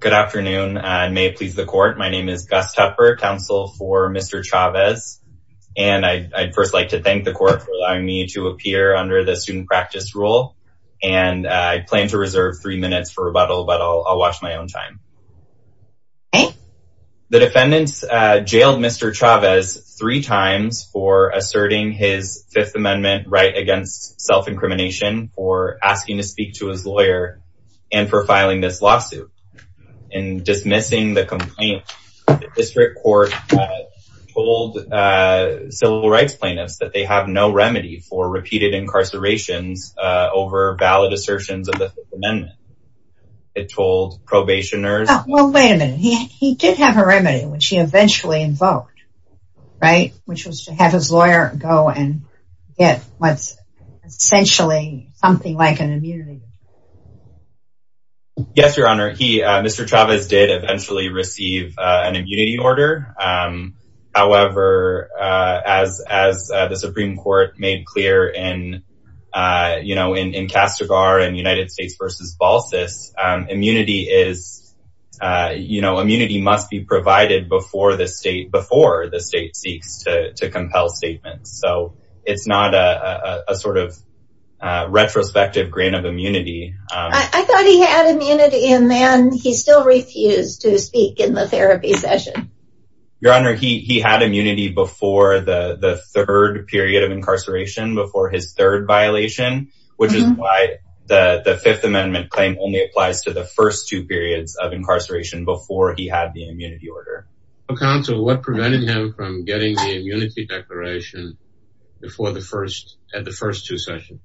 Good afternoon, and may it please the court. My name is Gus Tupper, counsel for Mr. Chavez, and I'd first like to thank the court for allowing me to appear under the student practice rule, and I plan to reserve three minutes for rebuttal, but I'll watch my own time. The defendants jailed Mr. Chavez three times for asserting his Fifth Amendment right against self-incrimination, for asking to speak to his lawyer, and for filing this lawsuit. In dismissing the complaint, the district court told civil rights plaintiffs that they have no remedy for repeated incarcerations over valid assertions of the Fifth Amendment. It told probationers... Well, wait a minute, he did have a remedy, which he eventually invoked, right? Which was to have his lawyer go and get what's essentially something like an immunity. Yes, your honor, he, Mr. Chavez did eventually receive an immunity order. However, as the Supreme Court made clear in, you know, in in Castigar in United States v. Balsas, immunity is, you know, immunity must be provided before the state, before the state seeks to compel statements. So it's not a sort of retrospective grain of immunity. I thought he had immunity, and then he still refused to speak in the therapy session. Your honor, he had immunity before the third period of incarceration, before his third violation, which is why the Fifth Amendment claim only applies to the first two periods of incarceration before he had the immunity order. Counsel, what prevented him from getting the immunity declaration before the first, at the first two sessions?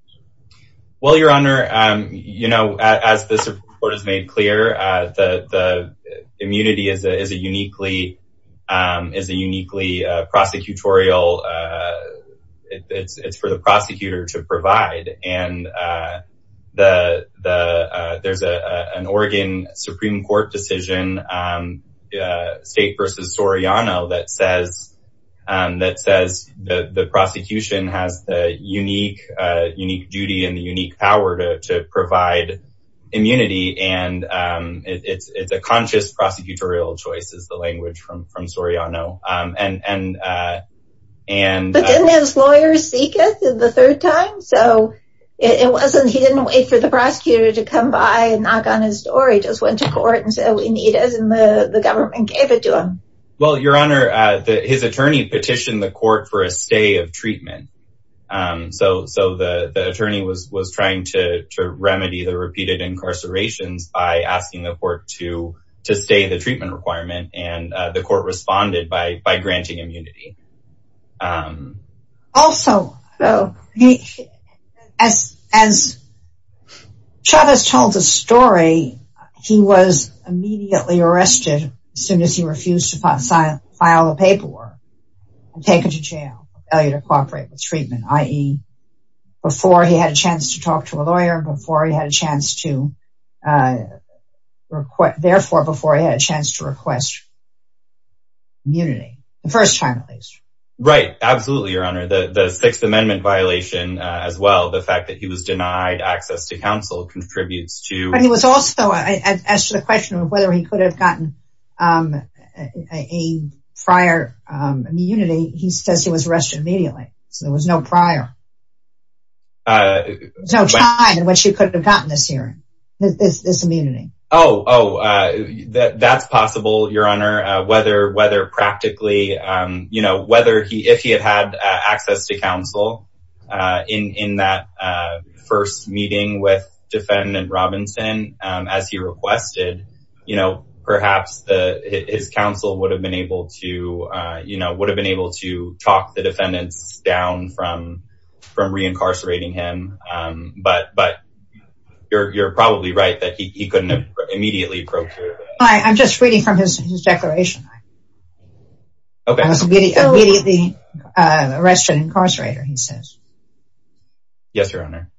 Well, your honor, you know, as the Supreme Court has made clear, the immunity is a uniquely, is a uniquely prosecutorial, it's for the prosecutor to decide. And there's an Oregon Supreme Court decision, State v. Soriano, that says, that says the prosecution has the unique, unique duty and the unique power to provide immunity. And it's a conscious prosecutorial choice is the language from Soriano. And, but then his lawyers seek it the third time. So it wasn't he didn't wait for the prosecutor to come by and knock on his door. He just went to court and said, we need it. And the government gave it to him. Well, your honor, his attorney petitioned the court for a stay of treatment. So so the attorney was was trying to remedy the repeated incarcerations by asking the treatment requirement and the court responded by by granting immunity. Also, as as Chavez told the story, he was immediately arrested soon as he refused to file a paperwork and taken to jail failure to cooperate with treatment i.e. before he had a chance to talk to a lawyer before he had a a request therefore before he had a chance to request immunity the first time at least. Right, absolutely. Your honor, the the Sixth Amendment violation as well, the fact that he was denied access to counsel contributes to... He was also asked the question of whether he could have gotten a prior immunity. He says he was arrested immediately. So there was no prior no time in which he could have gotten this hearing, this immunity. Oh, that's possible, your honor, whether whether practically, you know, whether he if he had had access to counsel in that first meeting with defendant Robinson, as he requested, you know, perhaps the his counsel would have been able to, you know, would have been able to talk the defendants down from from reincarcerating him. But but you're probably right that he couldn't have immediately procured. I'm just reading from his declaration. Okay, the arrest and incarcerator he says. Yes, your honor.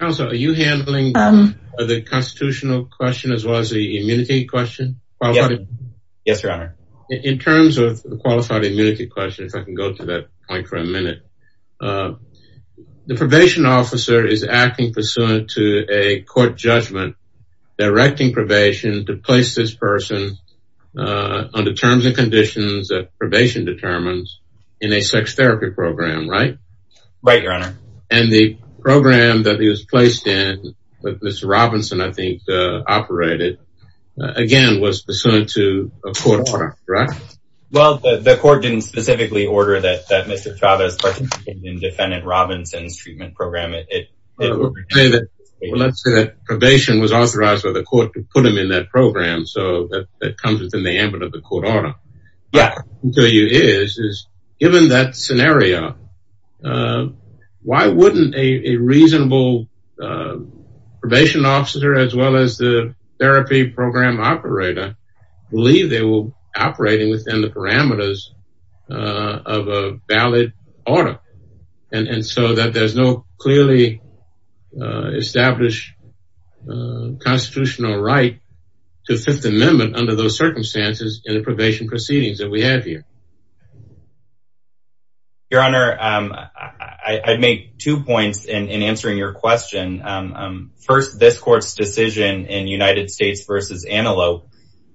Also, are you handling the constitutional question as well as the immunity question? Yes, your honor. In terms of the qualified immunity question, if I can go to that point for a minute. The probation officer is acting pursuant to a court judgment, directing probation to place this person under terms and conditions that probation determines in a sex therapy program, right? Right, your honor. And the program that he was placed in with Mr. Robinson, I think, operated, again, was pursuant to a court order, right? Well, the court didn't specifically order that that Mr. Chavez participated in defendant Robinson's treatment program. Let's say that probation was authorized by the court to put him in that program. So that comes within the ambit of the court order. Yeah, so you is is given that scenario. Uh, why wouldn't a reasonable probation officer, as well as the therapy program operator, believe they were operating within the parameters of a valid order? And so that there's no clearly established constitutional right to Fifth Amendment under those circumstances in the I'd make two points in answering your question. First, this court's decision in United States versus Antelope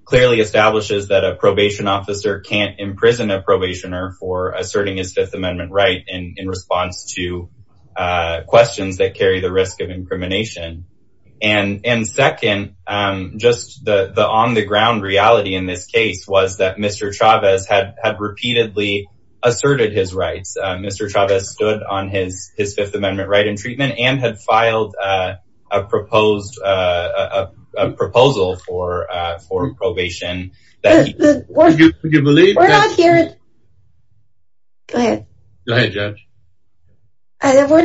clearly establishes that a probation officer can't imprison a probationer for asserting his Fifth Amendment right in response to questions that carry the risk of incrimination. And second, just the on the ground reality in this case was that Mr. Chavez had stood on his his Fifth Amendment right in treatment and had filed a proposed a proposal for for probation. We're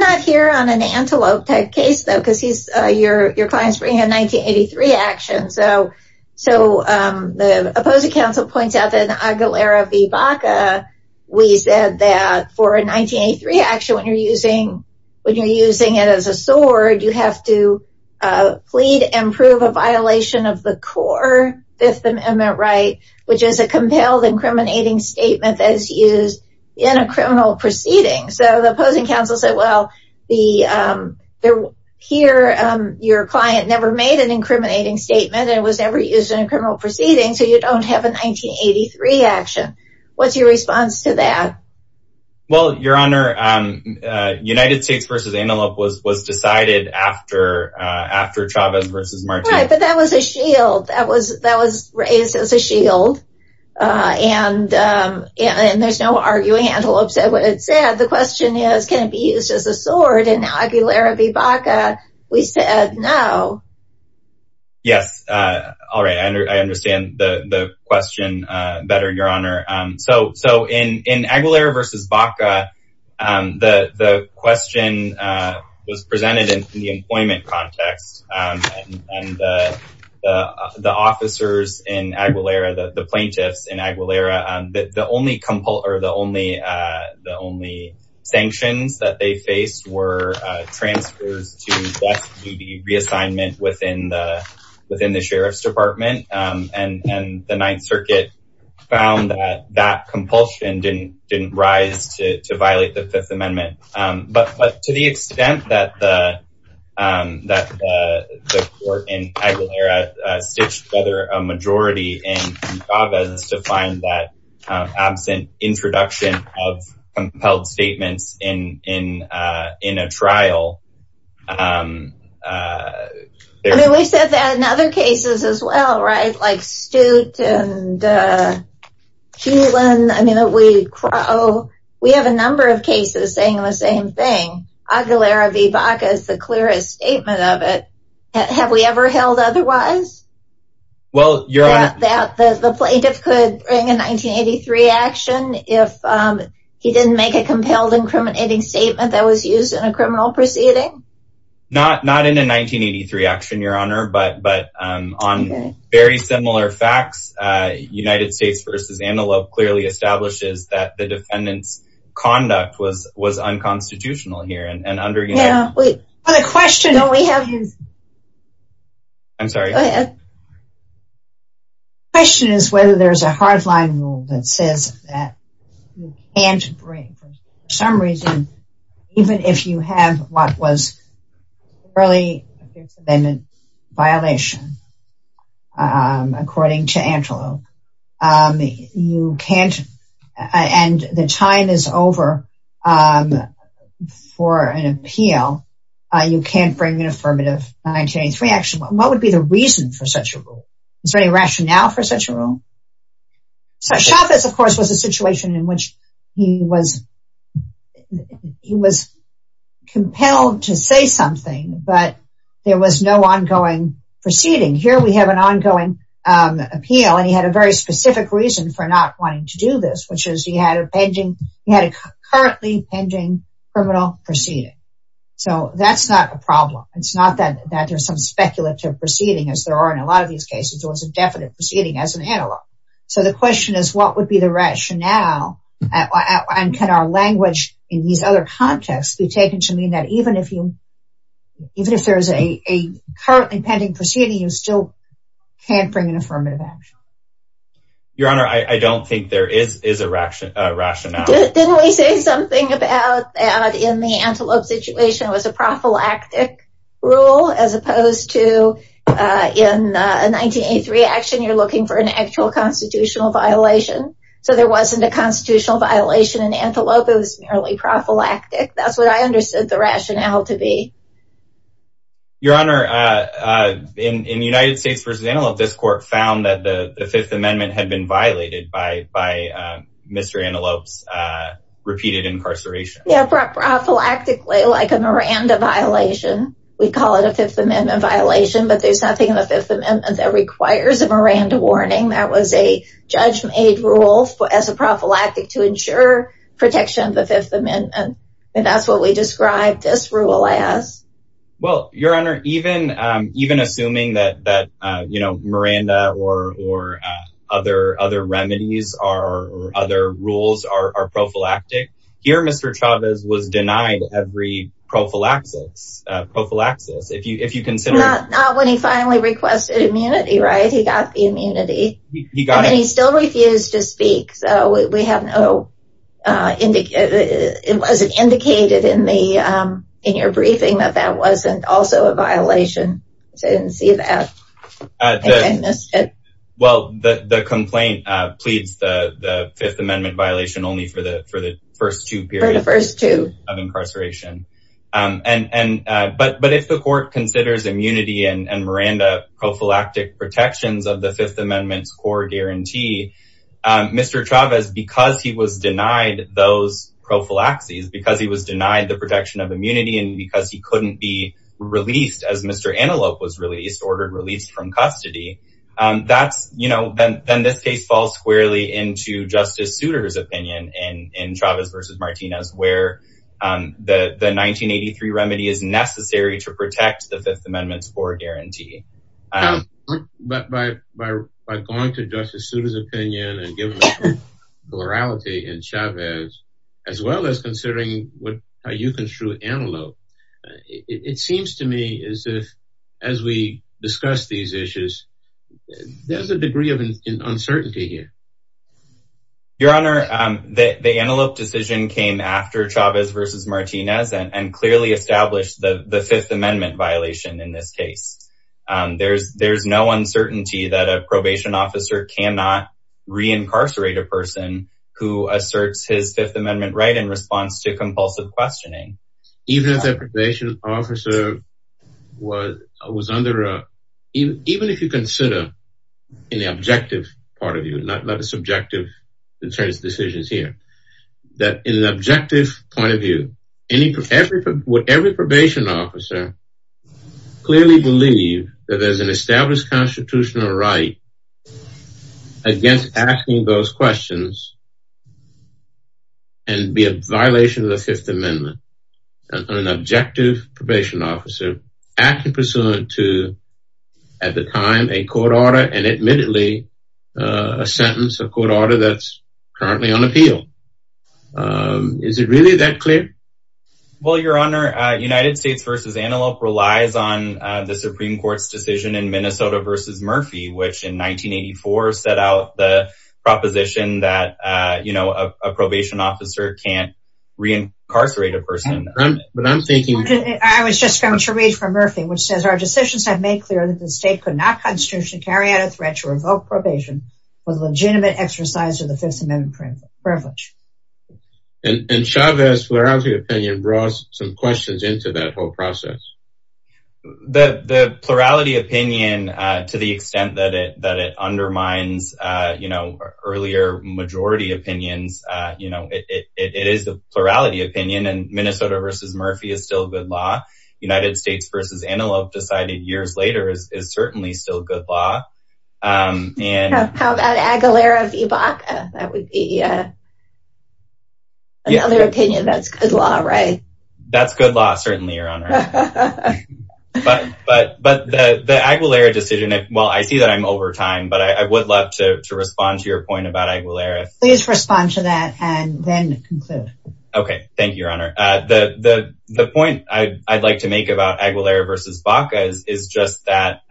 not here on an Antelope case, though, because he's your your clients bring in 1983 action. So so the opposing counsel points out that Aguilera v. Baca, we said that for 1983 action, when you're using when you're using it as a sword, you have to plead and prove a violation of the core Fifth Amendment right, which is a compelled incriminating statement that is used in a criminal proceeding. So the opposing counsel said, well, the there here, your client never made an incriminating statement, and it was never used in a criminal proceeding. So you don't have a 1983 action. What's your response to that? Well, Your Honor, United States versus Antelope was was decided after after Chavez versus Martin. But that was a shield that was that was raised as a shield. And, and there's no arguing Antelope said what it said. The question is, can it be questioned better, Your Honor? So so in in Aguilera versus Baca, the question was presented in the employment context. And the officers in Aguilera, the plaintiffs in Aguilera, the only compultor, the only the only sanctions that they faced were transfers to be reassignment within the sheriff's department. And the Ninth Circuit found that that compulsion didn't didn't rise to violate the Fifth Amendment. But but to the extent that the that the court in Aguilera stitched together a majority in Chavez to find that absent introduction of compelled statements in in in a cases as well, right? Like Stute and Keelan. I mean, we crow, we have a number of cases saying the same thing. Aguilera v. Baca is the clearest statement of it. Have we ever held otherwise? Well, Your Honor, that the plaintiff could bring a 1983 action if he didn't make a compelled incriminating statement that was used in a criminal proceeding. Not not in a 1983 action, Your Honor, but but on very similar facts, United States v. Antelope clearly establishes that the defendant's conduct was was unconstitutional here and under the question that we have. I'm sorry. Question is whether there's a hardline rule that says that you can't break for some reason, even if you have what was really a Fifth Amendment violation, according to Antelope. You can't and the time is over for an appeal. You can't bring an affirmative 1983 action. What would be the reason for such a rule? Is there any rationale for such a rule? So Chavez, of course, was a situation in which he was, he was compelled to say something, but there was no ongoing proceeding. Here we have an ongoing appeal and he had a very specific reason for not wanting to do this, which is he had a pending, he had a currently pending criminal proceeding. So that's not a problem. It's not that that there's some speculative proceeding, as there are in a lot of these cases, there was a definite proceeding as an antelope. So the question is, what would be the rationale? And can our language in these other contexts be taken to mean that even if you even if there's a currently pending proceeding, you still can't bring an affirmative action? Your Honor, I don't think there is is a rationale. Didn't we say something about that in the Antelope situation was a prophylactic rule as opposed to in a 1983 action, you're looking for an actual constitutional violation. So there wasn't a constitutional violation in Antelope, it was merely prophylactic. That's what I understood the rationale to be. Your Honor, in United States versus Antelope, this court found that the Fifth Amendment had been violated by Mr. Antelope's repeated incarceration. Yeah, prophylactically like a Miranda violation. We call it a Fifth Amendment violation, but there's nothing in the Fifth Amendment that requires a Miranda warning. That was a judge made rule for as a prophylactic to ensure protection of the Fifth Amendment. And that's what we described this rule as. Well, Your Honor, even even assuming that that, Miranda or other remedies or other rules are prophylactic, here Mr. Chavez was denied every prophylaxis. Not when he finally requested immunity, right? He got the immunity. And he still refused to speak. So it wasn't indicated in your briefing that that wasn't also a violation. So I didn't see that. I missed it. Well, the complaint pleads the Fifth Amendment violation only for the first two periods of incarceration. But if the court considers immunity and Miranda prophylactic protections of the Fifth Amendment's core guarantee, Mr. Chavez, because he was denied those prophylaxis, because he was denied the released as Mr. Antelope was released, ordered released from custody. That's, you know, then this case falls squarely into Justice Souter's opinion and in Chavez versus Martinez, where the 1983 remedy is necessary to protect the Fifth Amendment's core guarantee. But by by by going to Justice Souter's opinion and giving the morality in Chavez, as well as considering what you construed Antelope, it seems to me as if, as we discuss these issues, there's a degree of uncertainty here. Your Honor, the Antelope decision came after Chavez versus Martinez and clearly established the Fifth Amendment violation in this case. There's there's no uncertainty that a probation officer cannot reincarcerate a person who asserts his Fifth Amendment right in response to compulsive questioning. Even if the probation officer was, was under, even if you consider in the objective part of you, not a subjective in terms of decisions here, that in an objective point of view, any, every, every probation officer clearly believe that there's an established constitutional right against asking those questions and be a violation of the Fifth Amendment. An objective probation officer acting pursuant to, at the time, a court order and admittedly a sentence, a court order that's currently on appeal. Is it really that clear? Well, Your Honor, United States versus Antelope relies on the Supreme Court's decision in Minnesota versus Murphy, which in 1984, set out the proposition that, you know, a probation officer can't reincarcerate a person. But I'm thinking, I was just going to read from Murphy, which says our decisions have made clear that the state could not constitutionally carry out a threat to revoke probation with legitimate exercise of the Fifth Amendment privilege. And Chavez's plurality opinion brought some questions into that whole process. The plurality opinion, to the extent that it undermines, you know, earlier majority opinions, you know, it is a plurality opinion and Minnesota versus Murphy is still good law. United States versus Antelope decided years later is certainly still good law. And how about Aguilera v. Baca? That would be another opinion that's good law, right? That's good law, certainly, Your Honor. But the Aguilera decision, well, I see that I'm over time, but I would love to respond to your point about Aguilera. Please respond to that and then conclude. Okay, thank you, Your Honor. The point I'd like to make about Aguilera v. Baca is just that,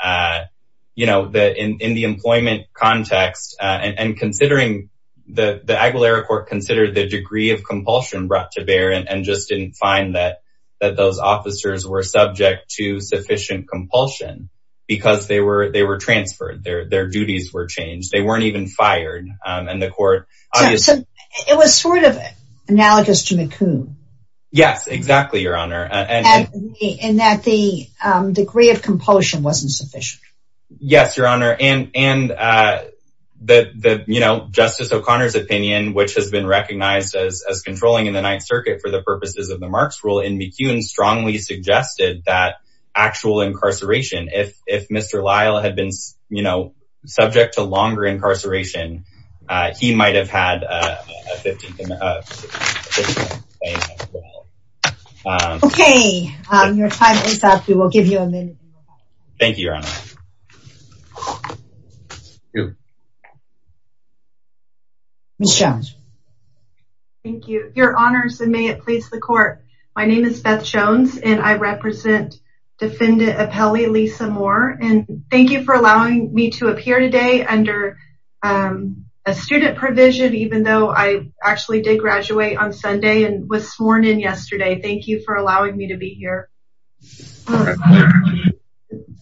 you know, in the employment context, and considering the Aguilera court considered the degree of compulsion brought to bear and just didn't find that those officers were subject to sufficient compulsion because they were transferred, their duties were changed, they weren't even fired. And the court... It was sort of analogous to McComb. Yes, exactly, Your Honor. And that the degree of compulsion wasn't sufficient. Yes, Your Honor. And Justice O'Connor's opinion, which has been recognized as controlling in the Ninth Circuit for the purposes of the Marks Rule in McComb strongly suggested that actual incarceration, if Mr. Lyle had been, you know, subject to longer incarceration, he might have had Okay, your time is up. We will give you a minute. Thank you, Your Honor. Ms. Jones. Thank you, Your Honors, and may it please the court. My name is Beth Jones, and I represent Defendant Appelli Lisa Moore, and thank you for allowing me to appear today under a student provision, even though I actually did graduate on Sunday and was sworn in yesterday. Thank you for allowing me to be here.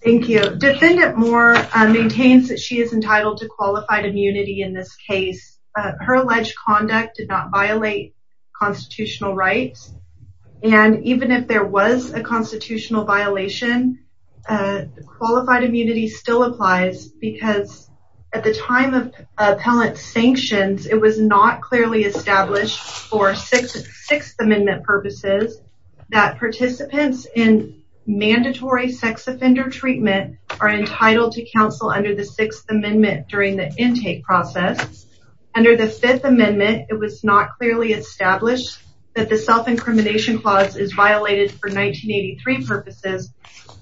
Thank you. Defendant Moore maintains that she is entitled to qualified immunity in this case. Her alleged conduct did not violate constitutional rights, and even if there was a constitutional violation, qualified immunity still applies because at the time of Appellant's sanctions, it was not clearly established for Sixth Amendment purposes that participants in sex offender treatment are entitled to counsel under the Sixth Amendment during the intake process. Under the Fifth Amendment, it was not clearly established that the self-incrimination clause is violated for 1983 purposes,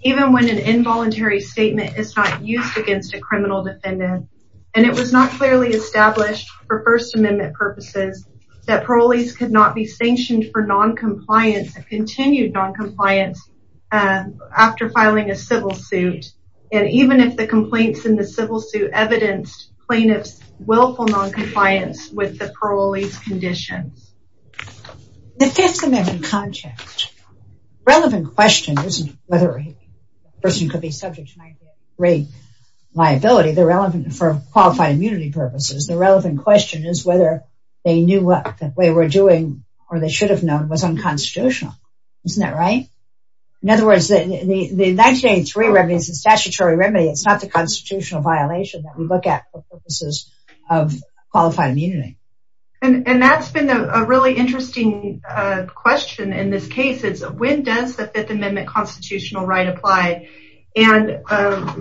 even when an involuntary statement is not used against a criminal defendant, and it was not clearly established for First Amendment purposes that parolees could not be sanctioned for non-compliance and continued non-compliance after filing a civil suit, and even if the complaints in the civil suit evidenced plaintiffs' willful non-compliance with the parolees' conditions. The Fifth Amendment context, relevant question isn't whether a person could be subject to liability, they're relevant for qualified immunity purposes. The relevant question is they knew what they were doing or they should have known was unconstitutional, isn't that right? In other words, the 1983 remedy is a statutory remedy, it's not the constitutional violation that we look at for purposes of qualified immunity. And that's been a really interesting question in this case, is when does the Fifth Amendment constitutional right apply? And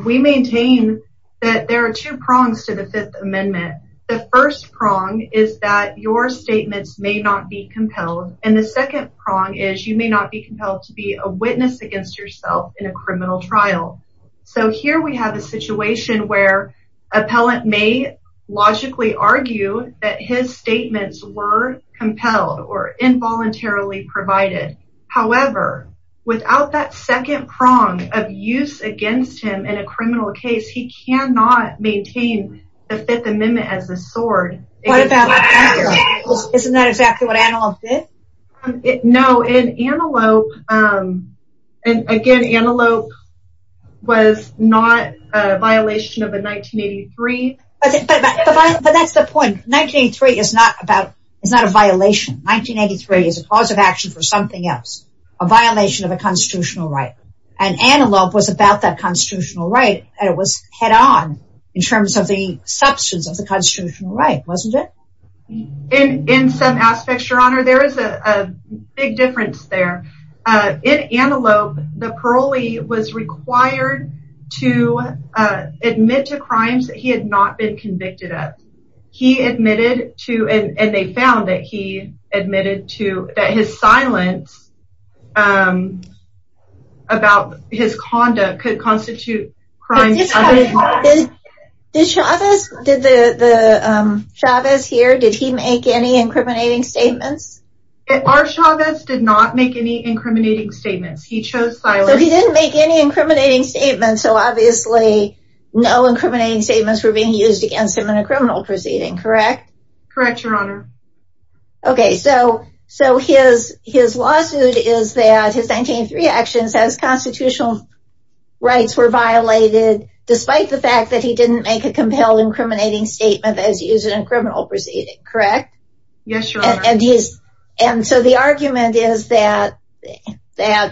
we maintain that there are two prongs to the Fifth Amendment. The first prong is that your statements may not be compelled, and the second prong is you may not be compelled to be a witness against yourself in a criminal trial. So here we have a situation where an appellant may logically argue that his statements were compelled or involuntarily provided. However, without that second prong of use against him in a criminal case, he cannot maintain the Fifth Amendment as a sword. Isn't that exactly what Antelope did? No, in Antelope, and again, Antelope was not a violation of a 1983. But that's the point. 1983 is not about, it's not a violation. 1983 is a cause of action for something else, a violation of a constitutional right. And Antelope was about that constitutional right, and it was head on in terms of the substance of the constitutional right, wasn't it? In some aspects, Your Honor, there is a big difference there. In Antelope, the parolee was required to admit to crimes that he had not been convicted of. He admitted to, and they found that admitted to that his silence about his conduct could constitute crimes. Did Chavez, did the Chavez here, did he make any incriminating statements? Our Chavez did not make any incriminating statements. He chose silence. So he didn't make any incriminating statements. So obviously, no incriminating statements were being used against him in a criminal proceeding, correct? Correct, Your Honor. Okay, so his lawsuit is that his 1983 actions as constitutional rights were violated, despite the fact that he didn't make a compelled incriminating statement as used in a criminal proceeding, correct? Yes, Your Honor. And so the argument is that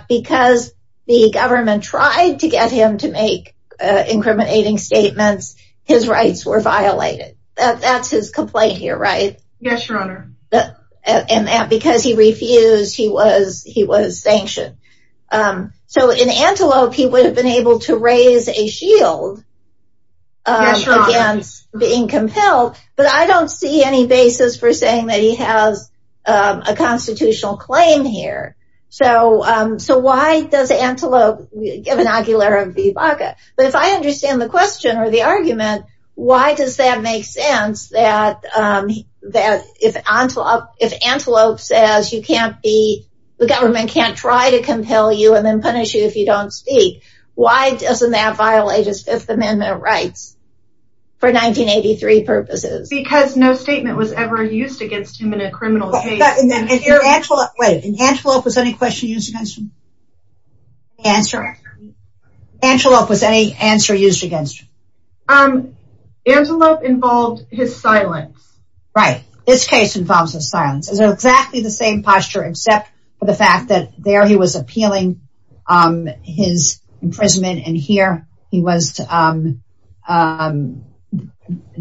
because the government tried to get him to make Yes, Your Honor. Because he refused, he was sanctioned. So in Antelope, he would have been able to raise a shield against being compelled, but I don't see any basis for saying that he has a constitutional claim here. So why does Antelope, given Aguilar v. Baca? But if I make sense, that if Antelope says you can't be, the government can't try to compel you and then punish you if you don't speak, why doesn't that violate his Fifth Amendment rights for 1983 purposes? Because no statement was ever used against him in a criminal case. Wait, Antelope, was any question used against him? Answer? Antelope, was any answer used against him? Antelope involved his silence. Right, this case involves his silence. It's exactly the same posture except for the fact that there he was appealing his imprisonment and here he was,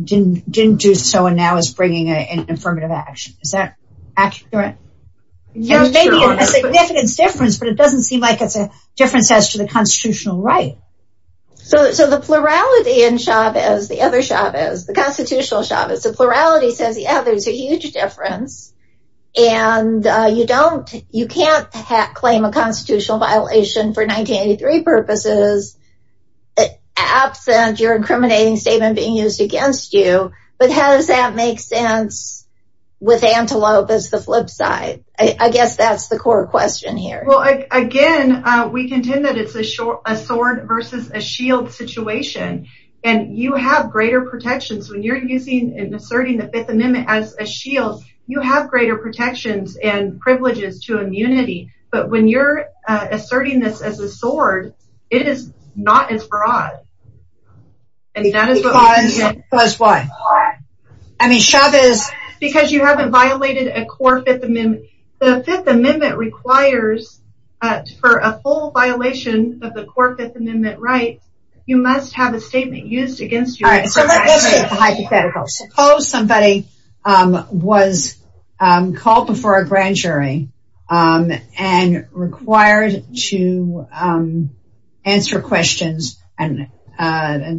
didn't do so and now is bringing an affirmative action. Is that accurate? Yes, Your Honor. Maybe a significant difference, but it doesn't seem like it's a difference as to the constitutional right. So the plurality in Chavez, the other Chavez, the constitutional Chavez, the plurality says, yeah, there's a huge difference. And you can't claim a constitutional violation for 1983 purposes absent your incriminating statement being used against you. But how does that make sense with Antelope as the flip side? I guess that's the core question here. Again, we contend that it's a sword versus a shield situation. And you have greater protections when you're using and asserting the Fifth Amendment as a shield, you have greater protections and privileges to immunity. But when you're asserting this as a sword, it is not as broad. Because why? I mean, Chavez... You haven't violated a core Fifth Amendment. The Fifth Amendment requires for a full violation of the core Fifth Amendment rights, you must have a statement used against you. Suppose somebody was called before a grand jury and required to answer questions and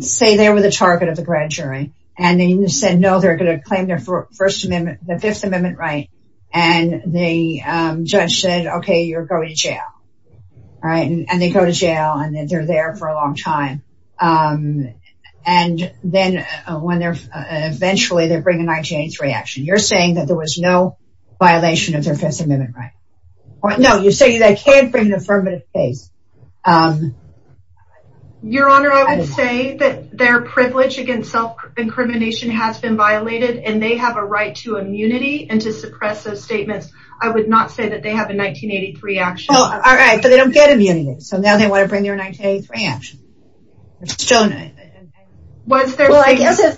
say they were the target of the grand jury. And they said no, they're going to claim their First the Fifth Amendment right. And the judge said, okay, you're going to jail. All right, and they go to jail and then they're there for a long time. And then when they're eventually they bring a 1983 action, you're saying that there was no violation of their Fifth Amendment, right? No, you say that can't bring an affirmative case. Your Honor, I would say that their privilege against self-incrimination has been violated, and they have a right to immunity and to suppress those statements. I would not say that they have a 1983 action. All right, but they don't get immunity. So now they want to bring their 1983 action. Well, I guess if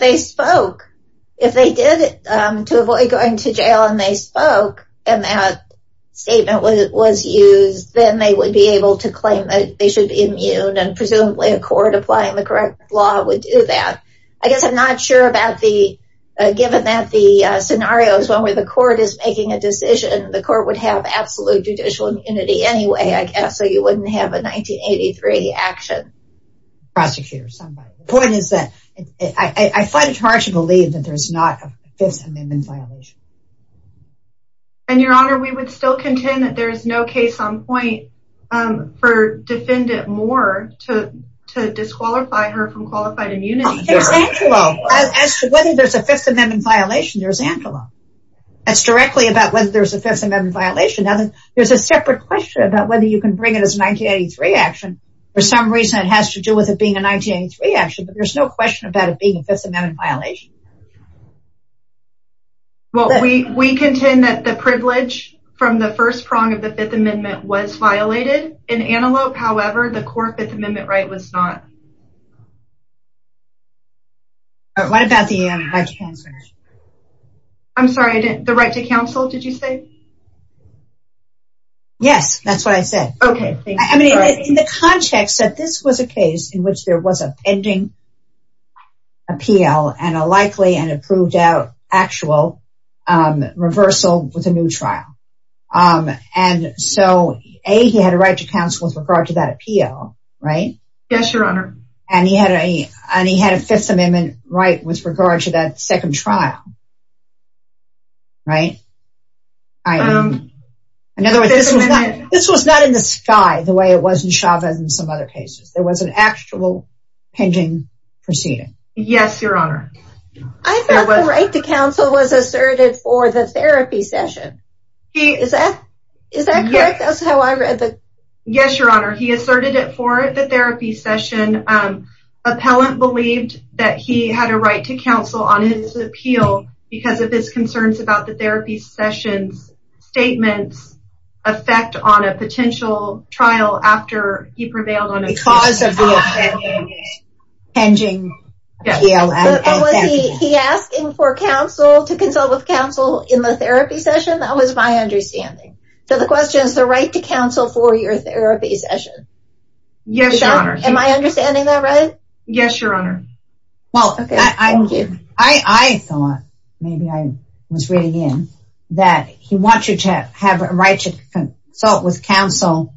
they spoke, if they did, to avoid going to jail, and they spoke, and that statement was used, then they would be able to claim that they should be immune and presumably a court applying the correct law would do that. I guess I'm not sure about the, given that the scenario is one where the court is making a decision, the court would have absolute judicial immunity anyway, I guess, so you wouldn't have a 1983 action. Prosecutor, somebody. The point is that I find it hard to believe that there's not a Fifth Amendment violation. And Your Honor, we would still contend that there is no case on point for Defendant Moore to disqualify her from qualified immunity. Whether there's a Fifth Amendment violation, there's Antelope. That's directly about whether there's a Fifth Amendment violation. There's a separate question about whether you can bring it as a 1983 action. For some reason, it has to do with it being a 1983 action, but there's no question about it being a Fifth Amendment violation. Well, we contend that the privilege from the first prong of the Fifth Amendment was violated. In Antelope, however, the core Fifth Amendment right was not. All right, what about the right to counsel? I'm sorry, the right to counsel, did you say? Yes, that's what I said. Okay. I mean, in the context that this was a case in which there was a proved out actual reversal with a new trial. And so, A, he had a right to counsel with regard to that appeal, right? Yes, Your Honor. And he had a Fifth Amendment right with regard to that second trial, right? In other words, this was not in the sky the way it was in Chavez and some other cases. There was an actual pinging proceeding. Yes, Your Honor. I thought the right to counsel was asserted for the therapy session. Is that correct? That's how I read it. Yes, Your Honor. He asserted it for the therapy session. Appellant believed that he had a right to counsel on his appeal because of his concerns about the therapy session's statements affect on a potential trial after he prevailed on the cause of the appending appeal. But was he asking for counsel to consult with counsel in the therapy session? That was my understanding. So, the question is the right to counsel for your therapy session. Yes, Your Honor. Am I understanding that right? Yes, Your Honor. Well, I thought, maybe I was reading in, that he wanted to have a right to consult with counsel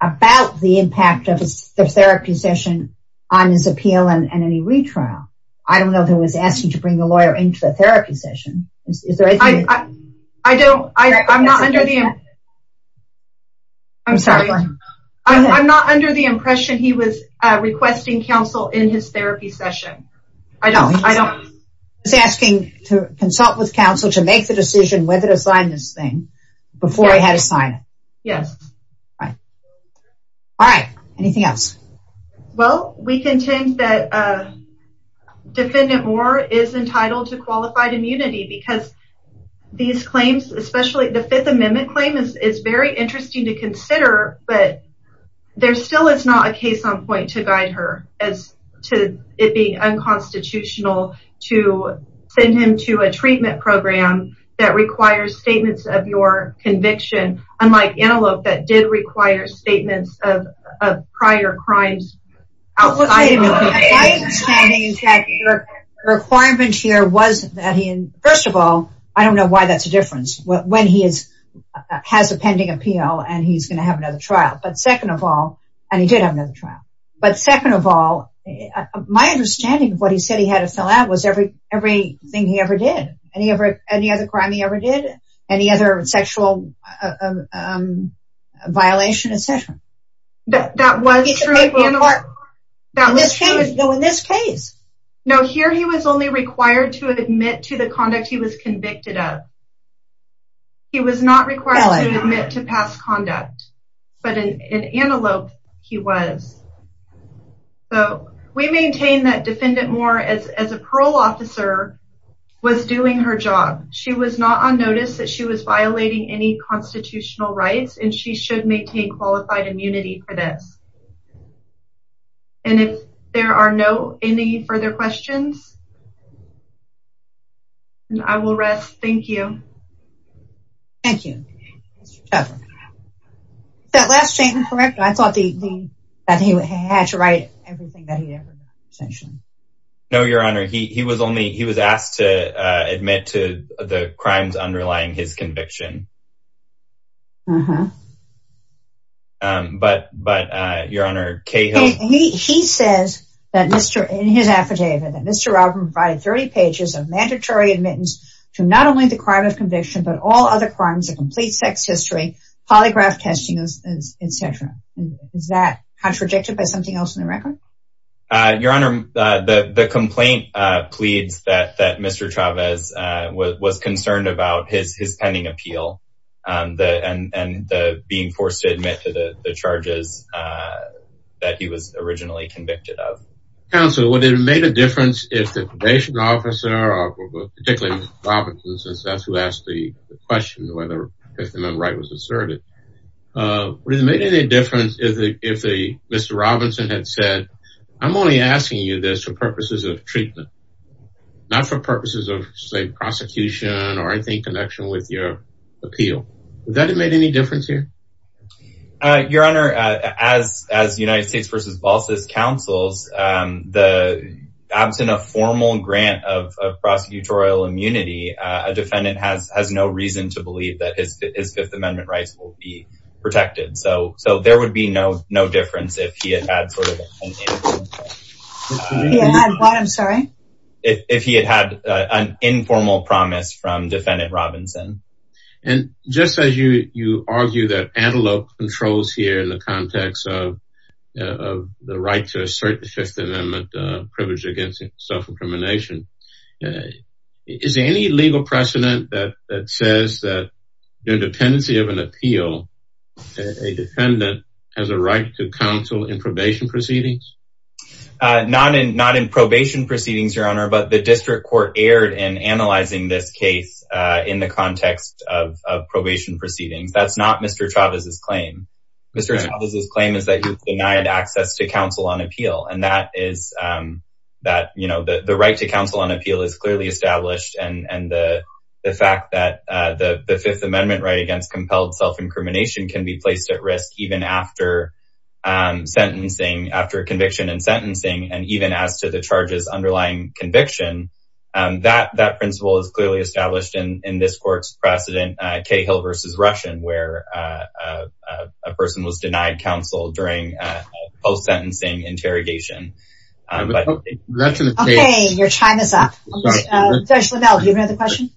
about the impact of the therapy session on his appeal and any retrial. I don't know if he was asking to bring the lawyer into the therapy session. I don't, I'm not under the impression. I'm sorry. I'm not under the impression he was requesting counsel in his therapy session. He was asking to consult with counsel to make the decision whether to sign this thing before he had a sign. Yes. All right. Anything else? Well, we contend that Defendant Moore is entitled to qualified immunity because these claims, especially the Fifth Amendment claim, is very interesting to consider, but there still is not a case on point to guide her as to it being unconstitutional to send him to a treatment program that requires statements of your conviction, unlike Antelope that did require statements of prior crimes. Requirement here was that he, first of all, I don't know why that's a difference when he is, has a pending appeal and he's going to have another trial, but second of all, and he did have another trial, but second of all, my understanding of what he said he had to fill was everything he ever did, any other crime he ever did, any other sexual violation, et cetera. That was true. In this case. No, here he was only required to admit to the conduct he was convicted of. He was not required to admit to past conduct, but in Antelope he was. So we maintain that Defendant Moore as a parole officer was doing her job. She was not on notice that she was violating any constitutional rights and she should maintain qualified immunity for this. And if there are no any further questions, I will rest. Thank you. Thank you. Mr. Tucker, that last statement, correct? I thought that he had to write everything that he ever mentioned. No, Your Honor, he was only, he was asked to admit to the crimes underlying his conviction. But, but Your Honor, he says that Mr. in his affidavit that Mr. Robin provided 30 pages of mandatory admittance to not only the crime of conviction, but all other crimes of complete sex history, polygraph testing, et cetera. Is that contradicted by something else in the record? Your Honor, the complaint pleads that Mr. Chavez was concerned about his pending appeal and the being forced to admit to the charges that he was originally convicted of. Counsel, would it have made a difference if the probation officer, particularly Mr. Robinson, since that's who asked the question, whether the right was asserted? Would it have made any difference if Mr. Robinson had said, I'm only asking you this for purposes of treatment, not for purposes of, say, prosecution or anything in connection with your appeal? Would that have made any difference here? Your Honor, as United States v. Balsas counsels, the absence of formal grant of prosecutorial immunity, a defendant has no reason to believe that his Fifth Amendment rights will be protected. So there would be no difference if he had had an informal promise from Defendant Robinson. And just as you argue that antelope controls here in the context of the right to assert the Fifth Amendment privilege against self-incrimination, is there any legal precedent that says that the dependency of an appeal, a defendant has a right to counsel in probation proceedings? Not in probation proceedings, Your Honor, but the district court erred in analyzing this case in the context of probation to counsel on appeal. And that is that the right to counsel on appeal is clearly established. And the fact that the Fifth Amendment right against compelled self-incrimination can be placed at risk even after conviction and sentencing, and even as to the charges underlying conviction, that principle is clearly established in this court's precedent, Cahill v. Russian, where a person was denied counsel during a post-sentencing interrogation. Okay, your time is up. Judge Linnell, do you have another question?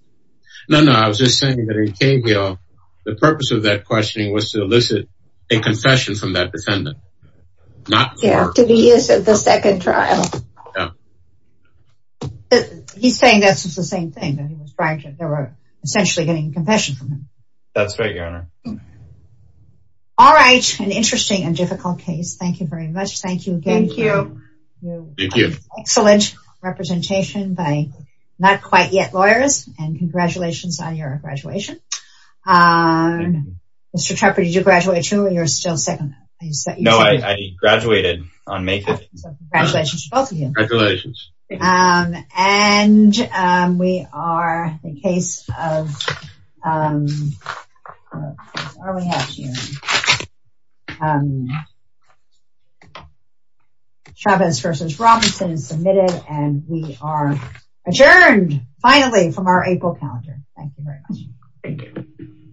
No, no, I was just saying that in Cahill, the purpose of that questioning was to elicit a confession from that defendant. Yeah, to be used at the second trial. Yeah. He's saying that's just the same thing, that they were essentially getting confession from him. That's right, Your Honor. All right, an interesting and difficult case. Thank you very much. Thank you again. Thank you. Excellent representation by not-quite-yet lawyers, and congratulations on your graduation. Mr. Trapper, did you graduate too, or you're still No, I graduated on May 5th. Congratulations to both of you. Congratulations. And we are in case of... Chavez v. Robinson is submitted, and we are adjourned, finally, from our April calendar. Thank you very much. Thank you.